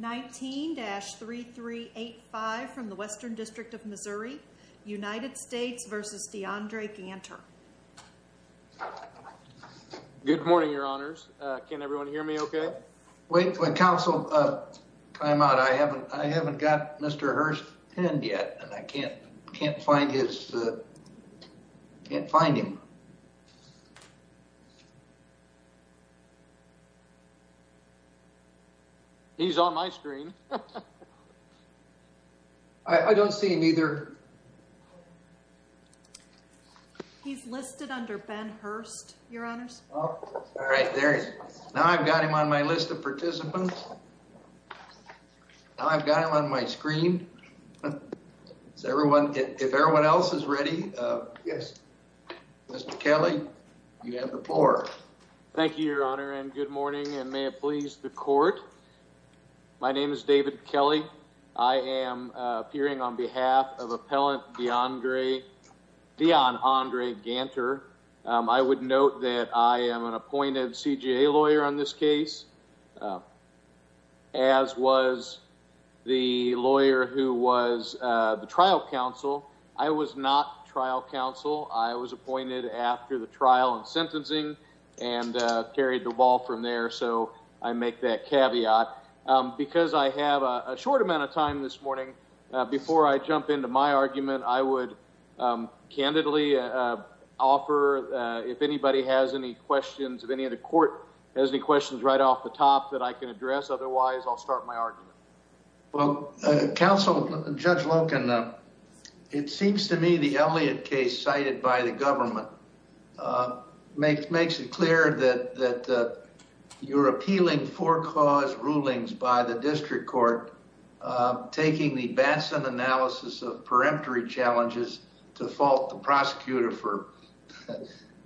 19-3385 from the Western District of Missouri, United States v. Dionandre Ganter. Good morning, your honors. Can everyone hear me okay? Wait for council timeout. I haven't got Mr. Hearst pinned yet, and I can't find his...can't find him. He's on my screen. I don't see him either. He's listed under Ben Hearst, your honors. All right, there he is. Now I've got him on my list of participants. Now I've got him on my screen. Is everyone...if everyone else is ready. Yes. Mr. Kelly, you have the floor. Thank you, your honor, and good morning, and may it please the court. My name is David Kelly. I am appearing on behalf of appellant Dionandre Ganter. I would note that I am an appointed CJA lawyer on this case, as was the lawyer who was the trial counsel. I was not trial counsel. I was appointed after the trial and sentencing and carried the ball from there. So I make that caveat because I have a short amount of time this morning. Before I jump into my argument, I would candidly offer, if anybody has any questions, if any of the court has any questions right off the top that I can address. Otherwise, I'll start my argument. Well, counsel, Judge Loken, it seems to me the Elliott case cited by the government makes it clear that you're appealing for cause rulings by the district court, taking the Batson analysis of peremptory challenges to fault the prosecutor for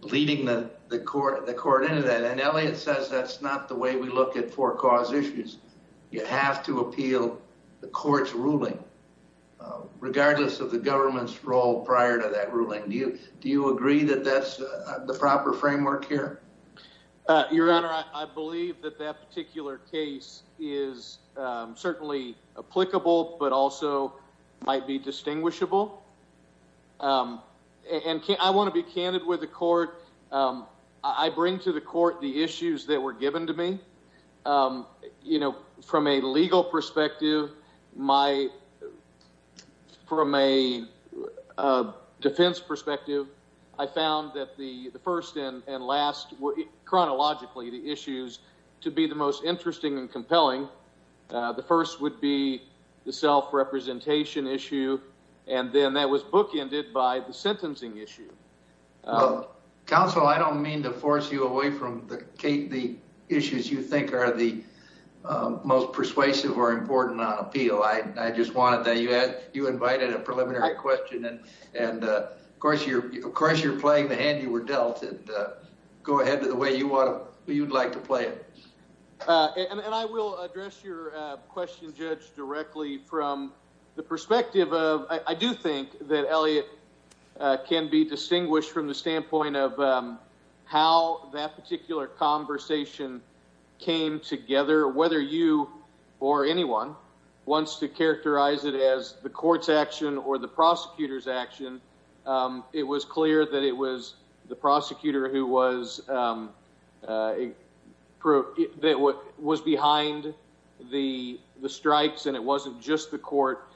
leading the court into that. And Elliott says that's not the way we look at for cause issues. You have to appeal the court's ruling regardless of the government's role prior to that ruling. Do you do you agree that that's the proper framework here? Your Honor, I believe that that particular case is certainly applicable, but also might be distinguishable. And I want to be candid with the court. I bring to the court the issues that were given to me, you know, from a legal perspective. My from a defense perspective, I found that the first and last were chronologically the issues to be the most interesting and compelling. The first would be the self-representation issue. And then that was bookended by the sentencing issue. Counsel, I don't mean to force you away from the issues you think are the most persuasive or important on appeal. I just wanted that you had you invited a preliminary question. And of course, you're of course, you're playing the hand you were dealt. Go ahead to the way you want. You'd like to play it. And I will address your question, Judge, directly from the perspective of I do think that Elliot can be distinguished from the standpoint of how that particular conversation came together, whether you or anyone wants to characterize it as the court's action or the prosecutor's action. It was clear that it was the prosecutor who was a pro that was behind the strikes and it wasn't just the court.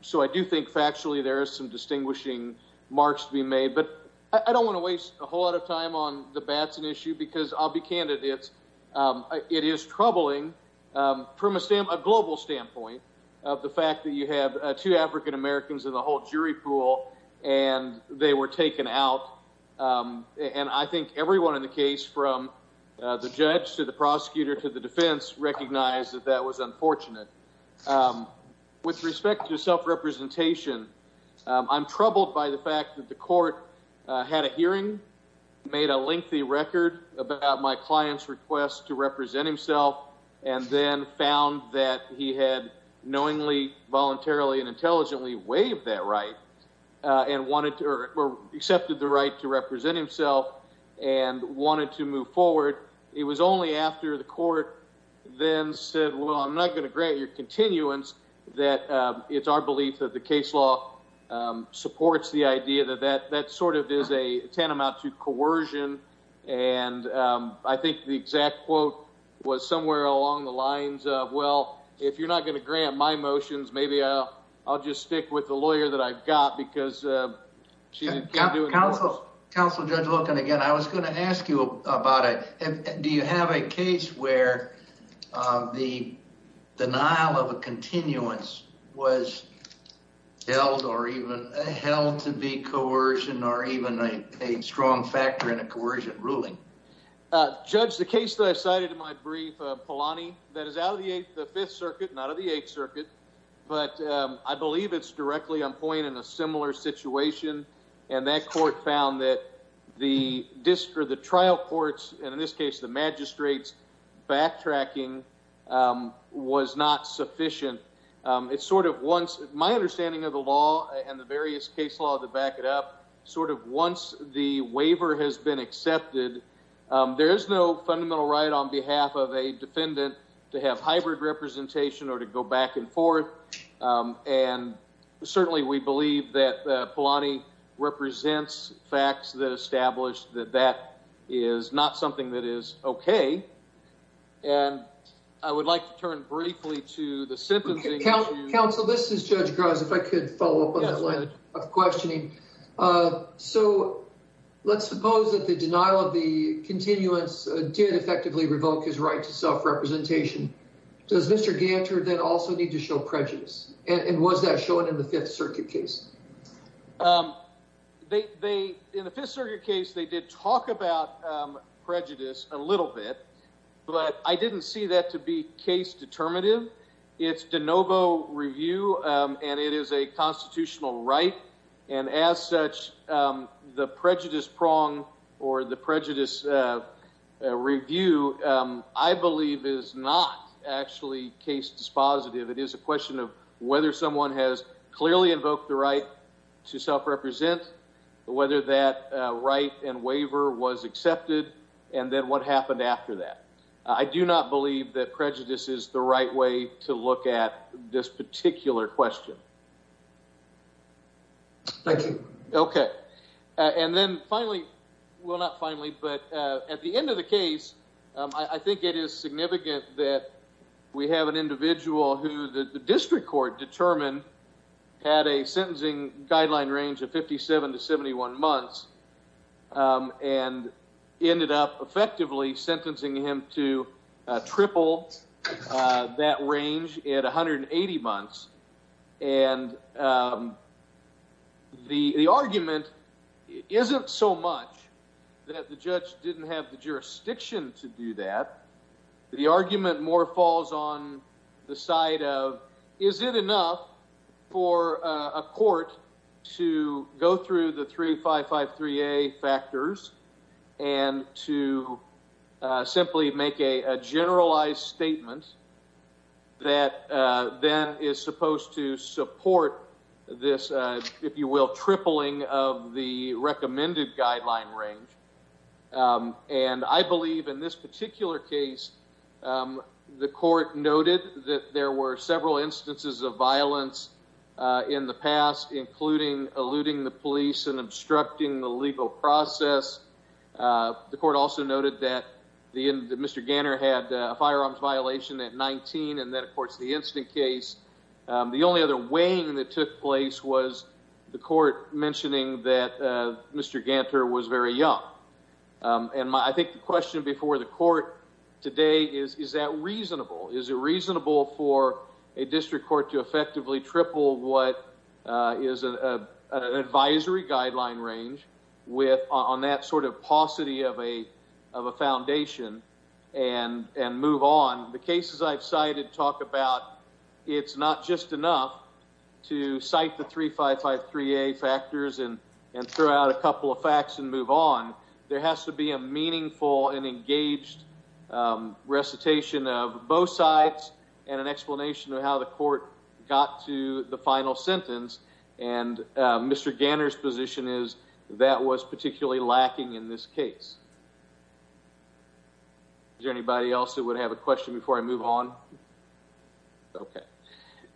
So I do think factually there is some distinguishing marks to be made. But I don't want to waste a whole lot of time on the bats an issue because I'll be candidates. It is troubling from a global standpoint of the fact that you have two African-Americans in the whole jury pool and they were taken out. And I think everyone in the case from the judge to the prosecutor to the defense recognized that that was unfortunate with respect to self-representation. I'm troubled by the fact that the court had a hearing, made a lengthy record about my client's request to represent himself, and then found that he had knowingly, voluntarily and intelligently waived that right and wanted or accepted the right to represent himself and wanted to move forward. It was only after the court then said, well, I'm not going to grant your continuance that it's our belief that the case law supports the idea that that that sort of is a tantamount to coercion. And I think the exact quote was somewhere along the lines of, well, if you're not going to grant my motions, maybe I'll just stick with the lawyer that I've got because she's got to counsel. And again, I was going to ask you about it. Do you have a case where the denial of a continuance was held or even held to be coercion or even a strong factor in a coercion ruling? Judge, the case that I cited in my brief, Polanyi, that is out of the Fifth Circuit, not of the Eighth Circuit, but I believe it's directly on point in a similar situation. And that court found that the trial courts, and in this case the magistrates, backtracking was not sufficient. It's sort of once my understanding of the law and the various case law to back it up, sort of once the waiver has been accepted, there is no fundamental right on behalf of a defendant to have hybrid representation or to go back and forth. And certainly we believe that Polanyi represents facts that established that that is not something that is OK. And I would like to turn briefly to the sentencing. Counsel, this is Judge Grimes. If I could follow up on that line of questioning. So let's suppose that the denial of the continuance did effectively revoke his right to self-representation. Does Mr. Ganter then also need to show prejudice? And was that shown in the Fifth Circuit case? In the Fifth Circuit case, they did talk about prejudice a little bit, but I didn't see that to be case determinative. It's de novo review, and it is a constitutional right. And as such, the prejudice prong or the prejudice review, I believe, is not actually case dispositive. It is a question of whether someone has clearly invoked the right to self-represent, whether that right and waiver was accepted, and then what happened after that. I do not believe that prejudice is the right way to look at this particular question. Thank you. OK. And then finally, well, not finally, but at the end of the case, I think it is significant that we have an individual who the district court determined had a sentencing guideline range of 57 to 71 months and ended up effectively sentencing him to triple that range at 180 months. And the argument isn't so much that the judge didn't have the jurisdiction to do that. The argument more falls on the side of, is it enough for a court to go through the 3553A factors and to simply make a generalized statement that then is supposed to support this, if you will, tripling of the recommended guideline range? And I believe in this particular case, the court noted that there were several instances of violence in the past, including eluding the police and obstructing the legal process. The court also noted that Mr. Ganter had a firearms violation at 19 and that, of course, the instant case. The only other weighing that took place was the court mentioning that Mr. Ganter was very young. And I think the question before the court today is, is that reasonable? Is it reasonable for a district court to effectively triple what is an advisory guideline range on that sort of paucity of a foundation and move on? The cases I've cited talk about it's not just enough to cite the 3553A factors and throw out a couple of facts and move on. There has to be a meaningful and engaged recitation of both sides and an explanation of how the court got to the final sentence. And Mr. Ganter's position is that was particularly lacking in this case. Is there anybody else that would have a question before I move on? Okay.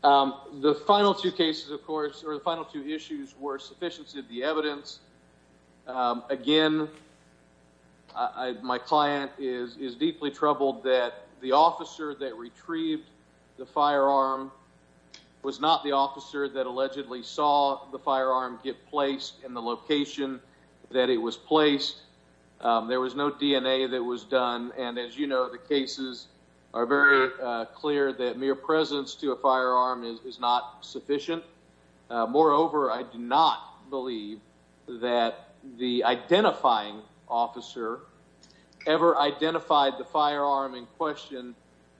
The final two cases, of course, or the final two issues were sufficiency of the evidence. Again, my client is deeply troubled that the officer that retrieved the firearm was not the officer that allegedly saw the firearm get placed in the location that it was placed. There was no DNA that was done. And as you know, the cases are very clear that mere presence to a firearm is not sufficient. Moreover, I do not believe that the identifying officer ever identified the firearm in question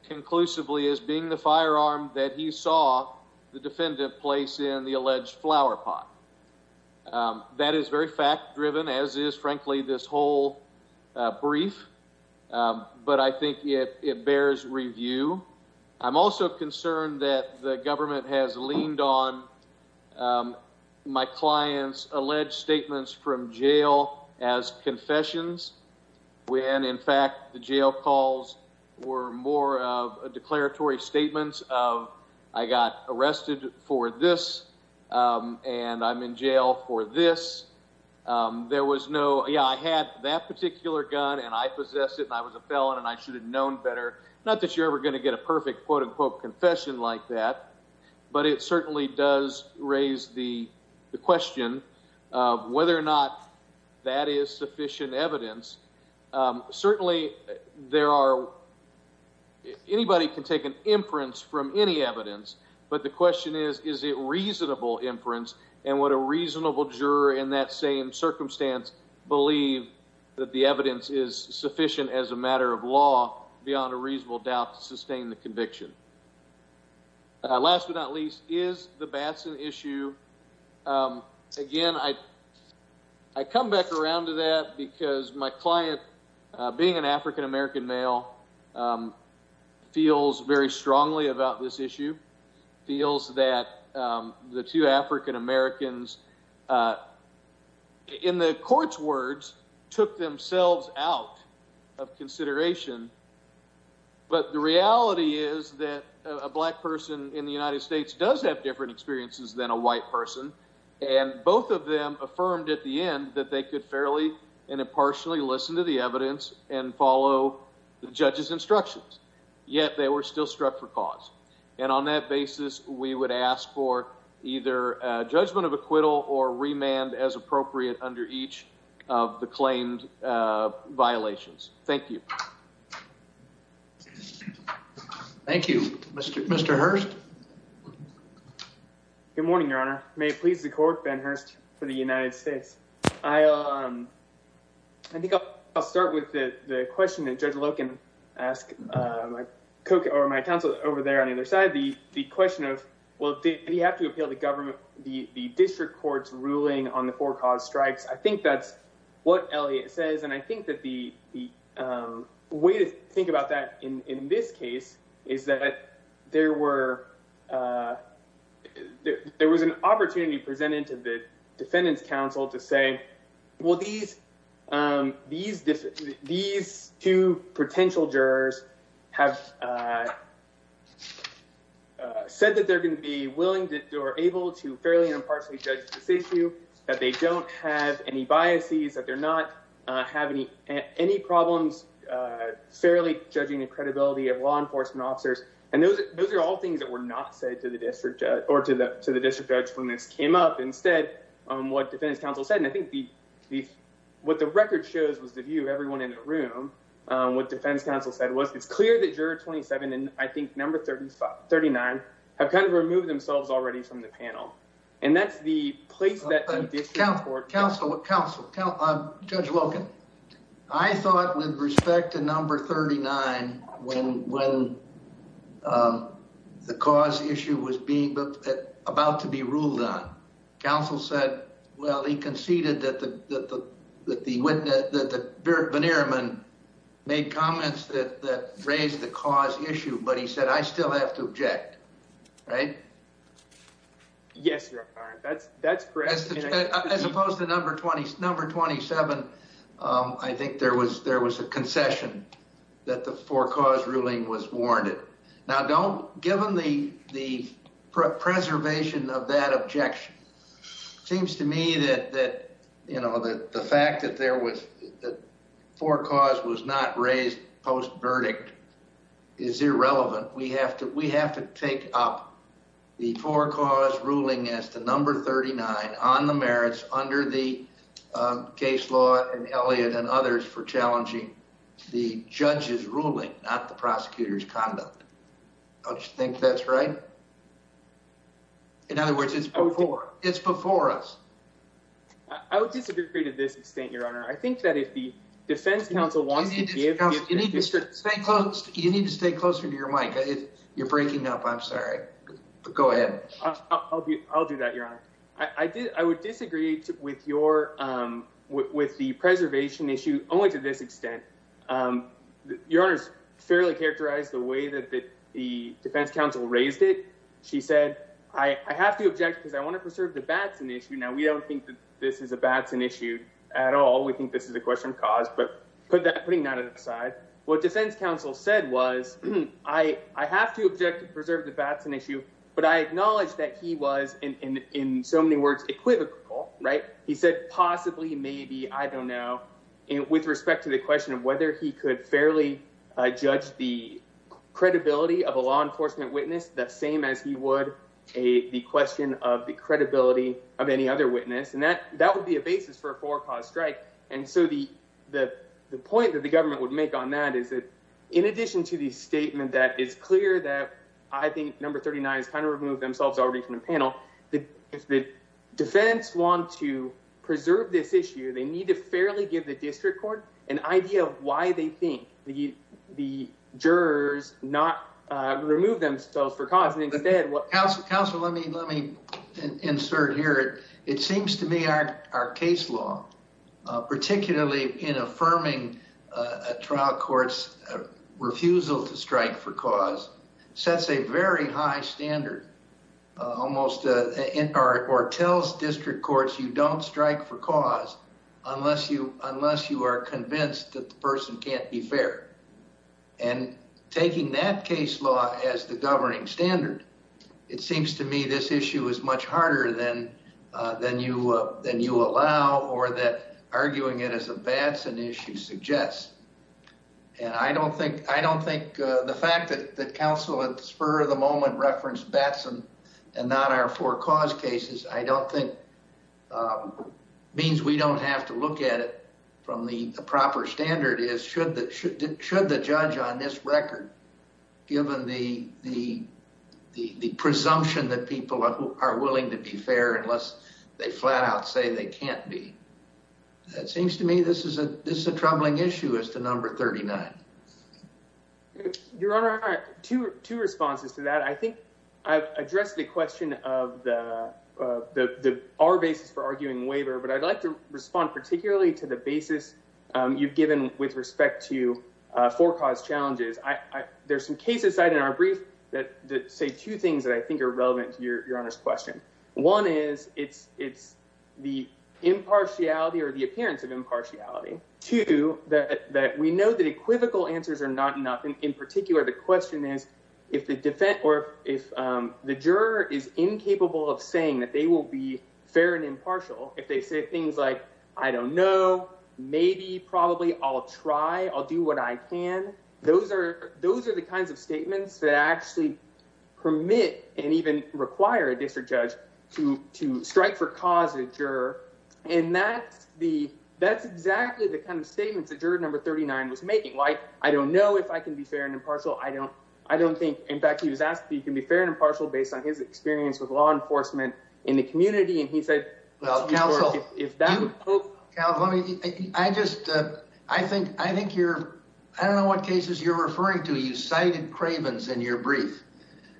conclusively as being the firearm that he saw the defendant place in the alleged flower pot. That is very fact driven, as is, frankly, this whole brief. But I think it bears review. I'm also concerned that the government has leaned on my client's alleged statements from jail as confessions when, in fact, the jail calls were more of a declaratory statements of I got arrested for this and I'm in jail for this. There was no, yeah, I had that particular gun and I possessed it and I was a felon and I should have known better. Not that you're ever going to get a perfect quote unquote confession like that, but it certainly does raise the question of whether or not that is sufficient evidence. Certainly there are. Anybody can take an inference from any evidence. But the question is, is it reasonable inference? And what a reasonable juror in that same circumstance believe that the evidence is sufficient as a matter of law beyond a reasonable doubt to sustain the conviction. Last but not least is the Batson issue. Again, I come back around to that because my client, being an African-American male, feels very strongly about this issue. Feels that the two African-Americans, in the court's words, took themselves out of consideration. But the reality is that a black person in the United States does have different experiences than a white person. And both of them affirmed at the end that they could fairly and impartially listen to the evidence and follow the judge's instructions. Yet they were still struck for cause. And on that basis, we would ask for either judgment of acquittal or remand as appropriate under each of the claimed violations. Thank you. Thank you, Mr. Mr. Hurst. Good morning, Your Honor. May it please the court. Ben Hurst for the United States. I think I'll start with the question that Judge Loken asked my counsel over there on either side. The question of, well, did he have to appeal the government, the district court's ruling on the four cause strikes? I think that's what Elliot says. And I think that the way to think about that in this case is that there were. There was an opportunity presented to the defendant's counsel to say, well, these these these two potential jurors have. Said that they're going to be willing to or able to fairly and impartially judge this issue, that they don't have any biases, that they're not having any problems fairly judging the credibility of law enforcement officers. And those are all things that were not said to the district or to the to the district judge when this came up. What defense counsel said, and I think the what the record shows was the view of everyone in the room. What defense counsel said was it's clear that you're twenty seven and I think number thirty five, thirty nine have kind of removed themselves already from the panel. And that's the place that the counsel counsel counsel judge Logan. I thought with respect to number thirty nine, when when the cause issue was being about to be ruled on. Counsel said, well, he conceded that the that the that the Bannerman made comments that raised the cause issue, but he said I still have to object. Right. Yes. That's that's correct. As opposed to number twenty, number twenty seven. I think there was there was a concession that the four cause ruling was warranted. Now, don't given the the preservation of that objection seems to me that that the fact that there was four cause was not raised post verdict is irrelevant. We have to we have to take up the four cause ruling as to number thirty nine on the merits under the case law. And Elliot and others for challenging the judge's ruling, not the prosecutor's conduct. I think that's right. In other words, it's before it's before us. I would disagree to this extent, Your Honor. I think that if the defense counsel wants to give you need to stay close, you need to stay closer to your mic. If you're breaking up, I'm sorry. Go ahead. I'll do that, Your Honor. I did. I would disagree with your with the preservation issue only to this extent. Your Honor's fairly characterized the way that the defense counsel raised it. She said, I have to object because I want to preserve the Batson issue. Now, we don't think that this is a Batson issue at all. We think this is a question of cause. But put that putting that aside. What defense counsel said was, I, I have to object to preserve the Batson issue. But I acknowledge that he was in so many words equivocal. Right. He said possibly, maybe. I don't know. And with respect to the question of whether he could fairly judge the credibility of a law enforcement witness, the same as he would a question of the credibility of any other witness. And that that would be a basis for a four cause strike. And so the the the point that the government would make on that is that in addition to the statement that is clear that I think number 39 is kind of remove themselves already from the panel. The defense want to preserve this issue. They need to fairly give the district court an idea of why they think the the jurors not remove themselves for cause. Counselor, let me let me insert here. It seems to me our our case law, particularly in affirming a trial court's refusal to strike for cause sets a very high standard. Almost or tells district courts you don't strike for cause unless you unless you are convinced that the person can't be fair. And taking that case law as the governing standard, it seems to me this issue is much harder than than you than you allow or that arguing it as a Batson issue suggests. And I don't think I don't think the fact that the counsel at the spur of the moment referenced Batson and not our four cause cases, I don't think means we don't have to look at it from the proper standard. Should the judge on this record given the the the presumption that people are willing to be fair unless they flat out say they can't be. It seems to me this is a this is a troubling issue as to number 39. Your Honor, to two responses to that, I think I've addressed the question of the the our basis for arguing waiver. But I'd like to respond particularly to the basis you've given with respect to four cause challenges. I there's some cases cited in our brief that say two things that I think are relevant to your Honor's question. One is it's it's the impartiality or the appearance of impartiality to that. We know that equivocal answers are not enough. And in particular, the question is, if the defense or if the juror is incapable of saying that they will be fair and impartial, if they say things like, I don't know, maybe probably I'll try. I'll do what I can. Those are those are the kinds of statements that actually permit and even require a district judge to to strike for causing a juror. And that's the that's exactly the kind of statements that juror number 39 was making. Like, I don't know if I can be fair and impartial. I don't I don't think. In fact, he was asked, you can be fair and impartial based on his experience with law enforcement in the community. And he said, well, counsel, if that's what I just I think I think you're I don't know what cases you're referring to. You cited Cravens in your brief.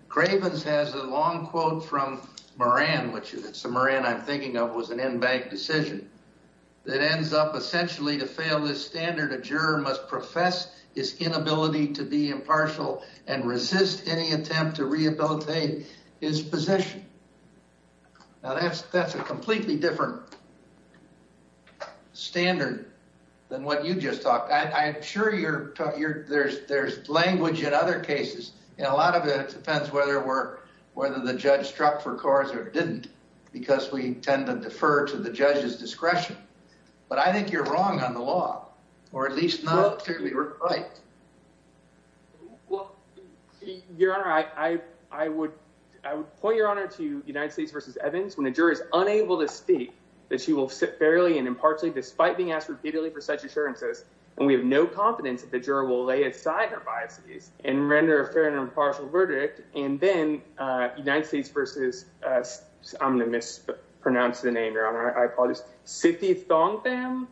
Cravens has a long quote from Moran, which is a Moran I'm thinking of was an in-bank decision that ends up essentially to fail this standard. A juror must profess his inability to be impartial and resist any attempt to rehabilitate his position. Now, that's that's a completely different standard than what you just talked. I'm sure you're you're there's there's language in other cases. And a lot of it depends whether it were whether the judge struck for cars or didn't, because we tend to defer to the judge's discretion. But I think you're wrong on the law, or at least not particularly right. Well, your honor, I, I, I would I would point your honor to United States versus Evans when a juror is unable to speak that she will sit fairly and impartially despite being asked repeatedly for such assurances. And we have no confidence that the juror will lay aside her biases and render a fair and impartial verdict. And then United States versus I'm going to mispronounce the name. Your honor, I apologize. Sifty thong them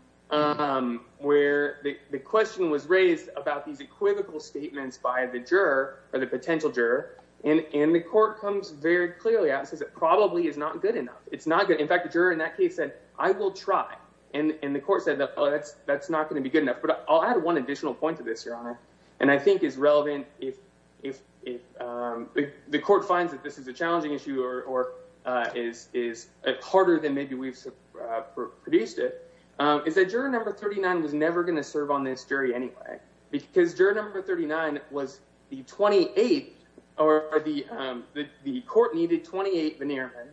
where the question was raised about these equivocal statements by the juror or the potential juror. And the court comes very clearly out and says it probably is not good enough. It's not good. In fact, the juror in that case said, I will try. And the court said, oh, that's that's not going to be good enough. But I'll add one additional point to this, your honor, and I think is relevant. If if if the court finds that this is a challenging issue or is is harder than maybe we've produced it, is that your number thirty nine was never going to serve on this jury anyway. Because your number thirty nine was the twenty eight or the the court needed twenty eight veneer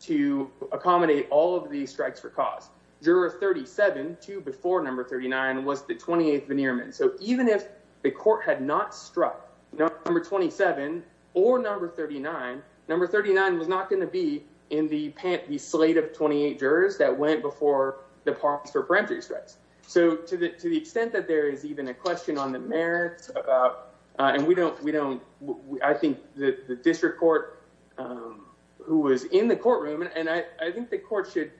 to accommodate all of these strikes for cause. Juror thirty seven to before number thirty nine was the twenty eight veneer. And so even if the court had not struck number twenty seven or number thirty nine, number thirty nine was not going to be in the slate of twenty eight jurors that went before the parks for parentheses. So to the extent that there is even a question on the merits about and we don't we don't. I think the district court who was in the courtroom and I think the court should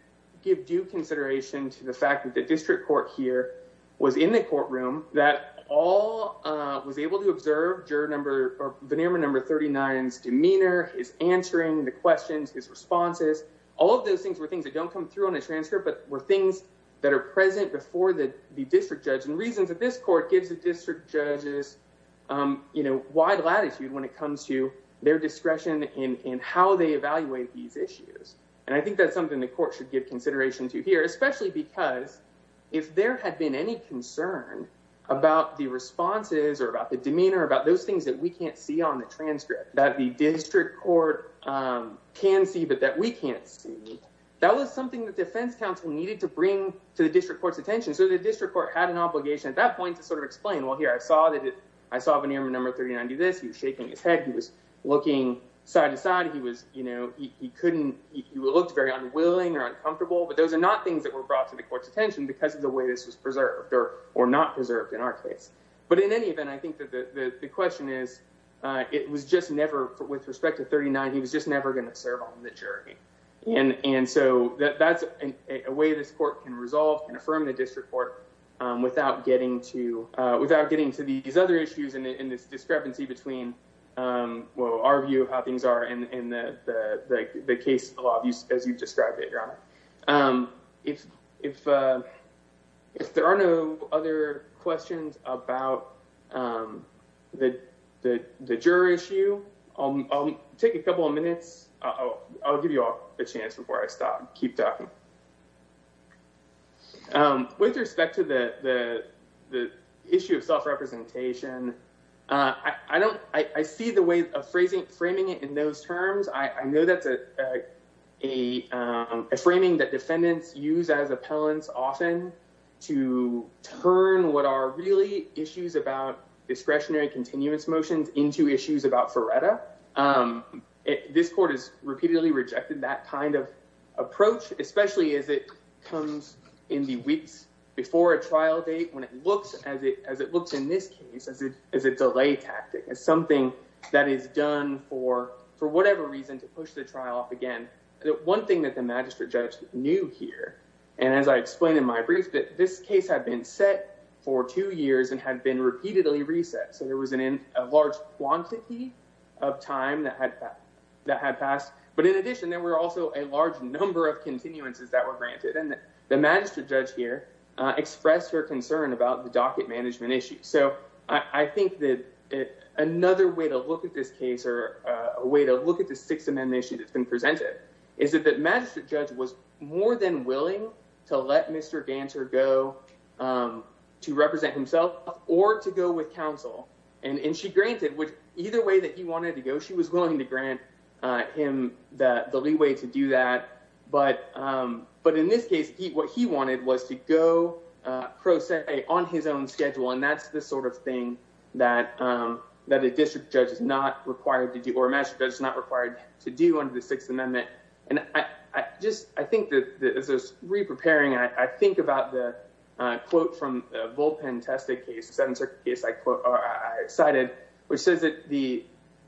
give due consideration to the fact that the district court here was in the courtroom that all was able to observe. Number thirty nine's demeanor is answering the questions, his responses, all of those things were things that don't come through on a transcript, but were things that are present before the district judge and reasons that this court gives the district judges wide latitude when it comes to their discretion in how they evaluate these issues. And I think that's something the court should give consideration to here, especially because if there had been any concern about the responses or about the demeanor, about those things that we can't see on the transcript that the district court can see, but that we can't see that was something that defense counsel needed to bring to the district court's attention. So the district court had an obligation at that point to sort of explain, well, here I saw that I saw the number thirty nine do this. You're shaking his head. He was looking side to side. He was you know, he couldn't. He looked very unwilling or uncomfortable, but those are not things that were brought to the court's attention because of the way this was preserved or not preserved in our case. But in any event, I think that the question is, it was just never with respect to thirty nine. He was just never going to serve on the jury. And so that's a way this court can resolve and affirm the district court without getting to without getting to these other issues in this discrepancy between our view of how things are in the case. A lot of you, as you described it. If if if there are no other questions about that, the juror issue, I'll take a couple of minutes. Oh, I'll give you a chance before I stop. Keep talking. With respect to the the the issue of self-representation, I don't I see the way of phrasing framing it in those terms. I know that's a a framing that defendants use as appellants often to turn what are really issues about discretionary continuance motions into issues about Faretta. This court is repeatedly rejected that kind of approach, especially as it comes in the weeks before a trial date, when it looks as it as it looks in this case as it is a delay tactic, as something that is done for for whatever reason to push the trial off again. One thing that the magistrate judge knew here, and as I explained in my brief, that this case had been set for two years and had been repeatedly reset. So there was a large quantity of time that had that had passed. But in addition, there were also a large number of continuances that were granted. And the magistrate judge here expressed her concern about the docket management issue. So I think that another way to look at this case or a way to look at the Sixth Amendment issue that's been presented is that the magistrate judge was more than willing to let Mr. Dancer go to represent himself or to go with counsel. And she granted which either way that he wanted to go. She was willing to grant him the leeway to do that. But but in this case, what he wanted was to go pro se on his own schedule. And that's the sort of thing that that a district judge is not required to do or measure that is not required to do under the Sixth Amendment. And I just I think that this is repreparing. I think about the quote from Volpen tested case center is, I quote, I cited, which says that the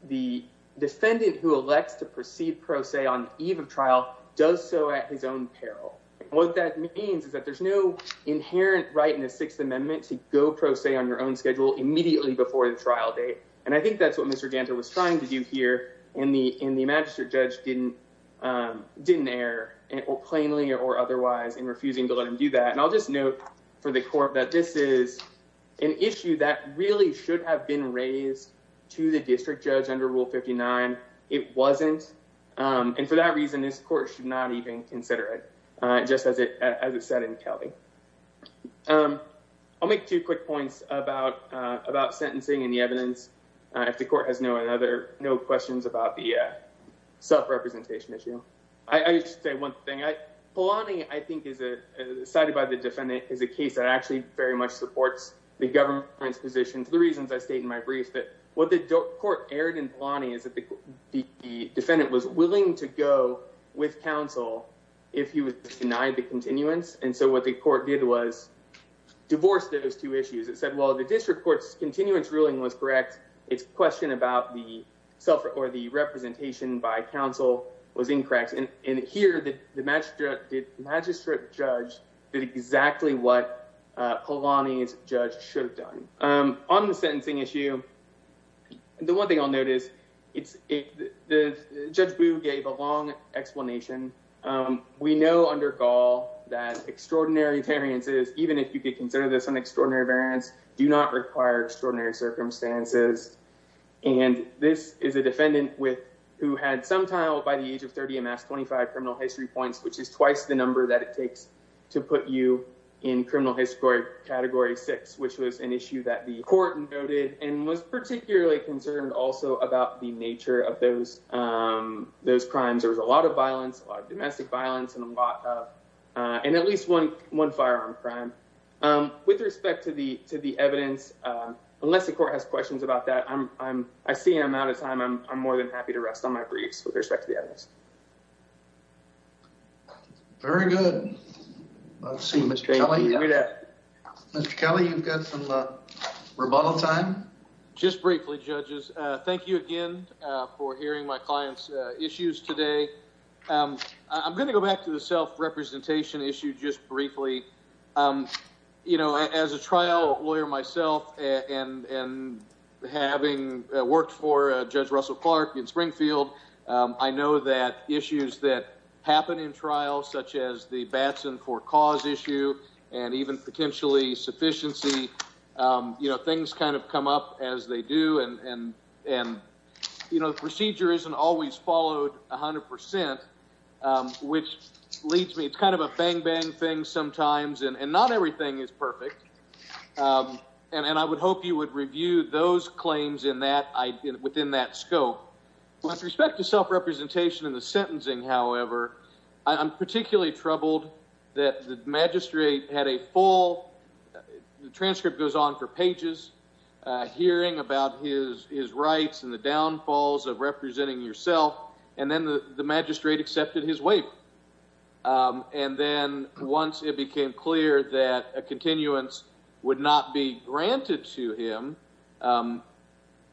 the defendant who elects to proceed pro se on eve of trial does so at his own peril. What that means is that there's no inherent right in the Sixth Amendment to go pro se on your own schedule immediately before the trial date. And I think that's what Mr. Dancer was trying to do here in the in the magistrate judge didn't didn't air or plainly or otherwise in refusing to let him do that. And I'll just note for the court that this is an issue that really should have been raised to the district judge under Rule 59. It wasn't. And for that reason, this court should not even consider it. Just as it as it said in Kelly, I'll make two quick points about about sentencing and the evidence. The court has no other no questions about the self-representation issue. I just say one thing, Paulani, I think, is a cited by the defendant is a case that actually very much supports the government's position. The reasons I state in my brief that what the court erred in planning is that the defendant was willing to go with counsel if he was denied the continuance. And so what the court did was divorce those two issues. It said, well, the district court's continuance ruling was correct. It's a question about the self or the representation by counsel was incorrect. And here the magistrate judge did exactly what Paulani's judge should have done on the sentencing issue. The one thing I'll notice, it's the judge who gave a long explanation. We know under Gaul that extraordinary variances, even if you could consider this an extraordinary variance, do not require extraordinary circumstances. And this is a defendant with who had some tile by the age of 30, amassed 25 criminal history points, which is twice the number that it takes to put you in criminal history category six, which was an issue that the court noted and was particularly concerned also about the nature of those those crimes. There was a lot of violence, domestic violence and a lot of and at least one one firearm crime with respect to the to the evidence. Unless the court has questions about that, I'm I'm I see I'm out of time. I'm I'm more than happy to rest on my briefs with respect to the evidence. Very good. I've seen Mr. Kelly. Mr. Kelly, you've got some rebuttal time. Just briefly, judges. Thank you again for hearing my client's issues today. I'm going to go back to the self representation issue just briefly. You know, as a trial lawyer myself and having worked for Judge Russell Clark in Springfield, I know that issues that happen in trials such as the Batson for cause issue and even potentially sufficiency, you know, things kind of come up as they do. And, you know, the procedure isn't always followed 100 percent, which leads me. It's kind of a bang, bang thing sometimes. And not everything is perfect. And I would hope you would review those claims in that within that scope. With respect to self representation in the sentencing, however, I'm particularly troubled that the magistrate had a full. The transcript goes on for pages hearing about his his rights and the downfalls of representing yourself. And then the magistrate accepted his way. And then once it became clear that a continuance would not be granted to him,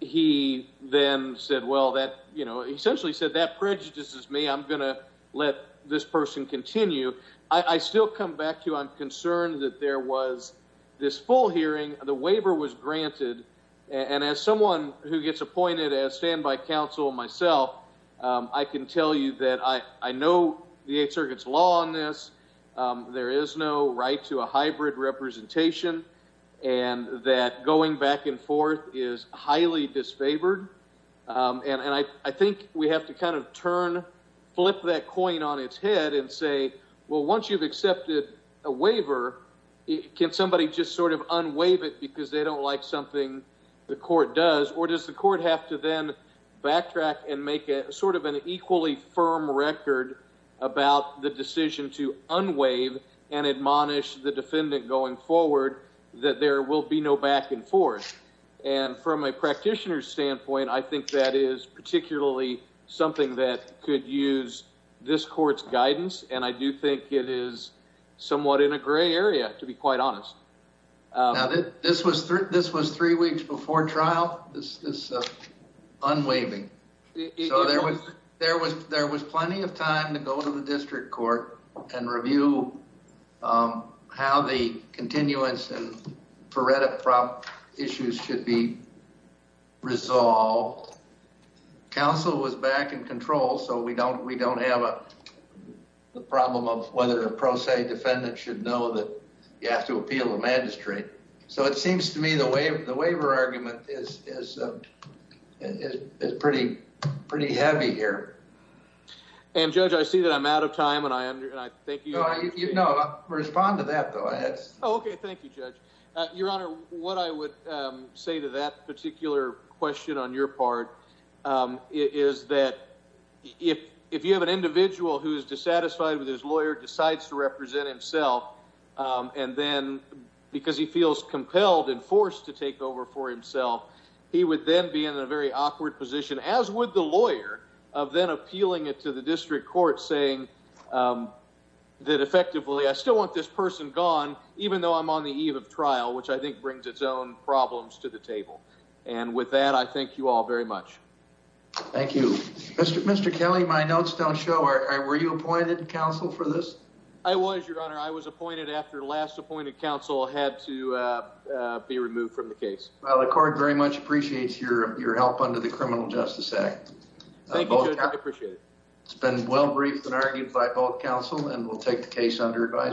he then said, well, that, you know, essentially said that prejudices me. I'm going to let this person continue. I still come back to you. I'm concerned that there was this full hearing. The waiver was granted. And as someone who gets appointed as standby counsel myself, I can tell you that I know the Eighth Circuit's law on this. There is no right to a hybrid representation and that going back and forth is highly disfavored. And I think we have to kind of turn flip that coin on its head and say, well, once you've accepted a waiver, can somebody just sort of unwaive it because they don't like something the court does? Or does the court have to then backtrack and make it sort of an equally firm record about the decision to unwaive and admonish the defendant going forward that there will be no back and forth? And from a practitioner standpoint, I think that is particularly something that could use this court's guidance. And I do think it is somewhat in a gray area, to be quite honest. Now, this was this was three weeks before trial. This is unwaiving. So there was there was there was plenty of time to go to the district court and review how the continuance and prerogative issues should be resolved. Counsel was back in control. So we don't we don't have a problem of whether a pro se defendant should know that you have to appeal the magistrate. So it seems to me the way the waiver argument is is is pretty, pretty heavy here. And, Judge, I see that I'm out of time and I am. Thank you. You know, respond to that, though. OK, thank you, Judge. Your Honor, what I would say to that particular question on your part is that if if you have an individual who is dissatisfied with his lawyer decides to represent himself and then because he feels compelled and forced to take over for himself, he would then be in a very awkward position, as would the lawyer of then appealing it to the district court, saying that effectively, I still want this person gone, even though I'm on the eve of trial, which I think brings its own problems to the table. And with that, I thank you all very much. Thank you, Mr. Mr. Kelly. My notes don't show. Were you appointed counsel for this? I was, Your Honor. I was appointed after last appointed counsel had to be removed from the case. Well, the court very much appreciates your your help under the Criminal Justice Act. I appreciate it. It's been well briefed and argued by both counsel and will take the case under advisory.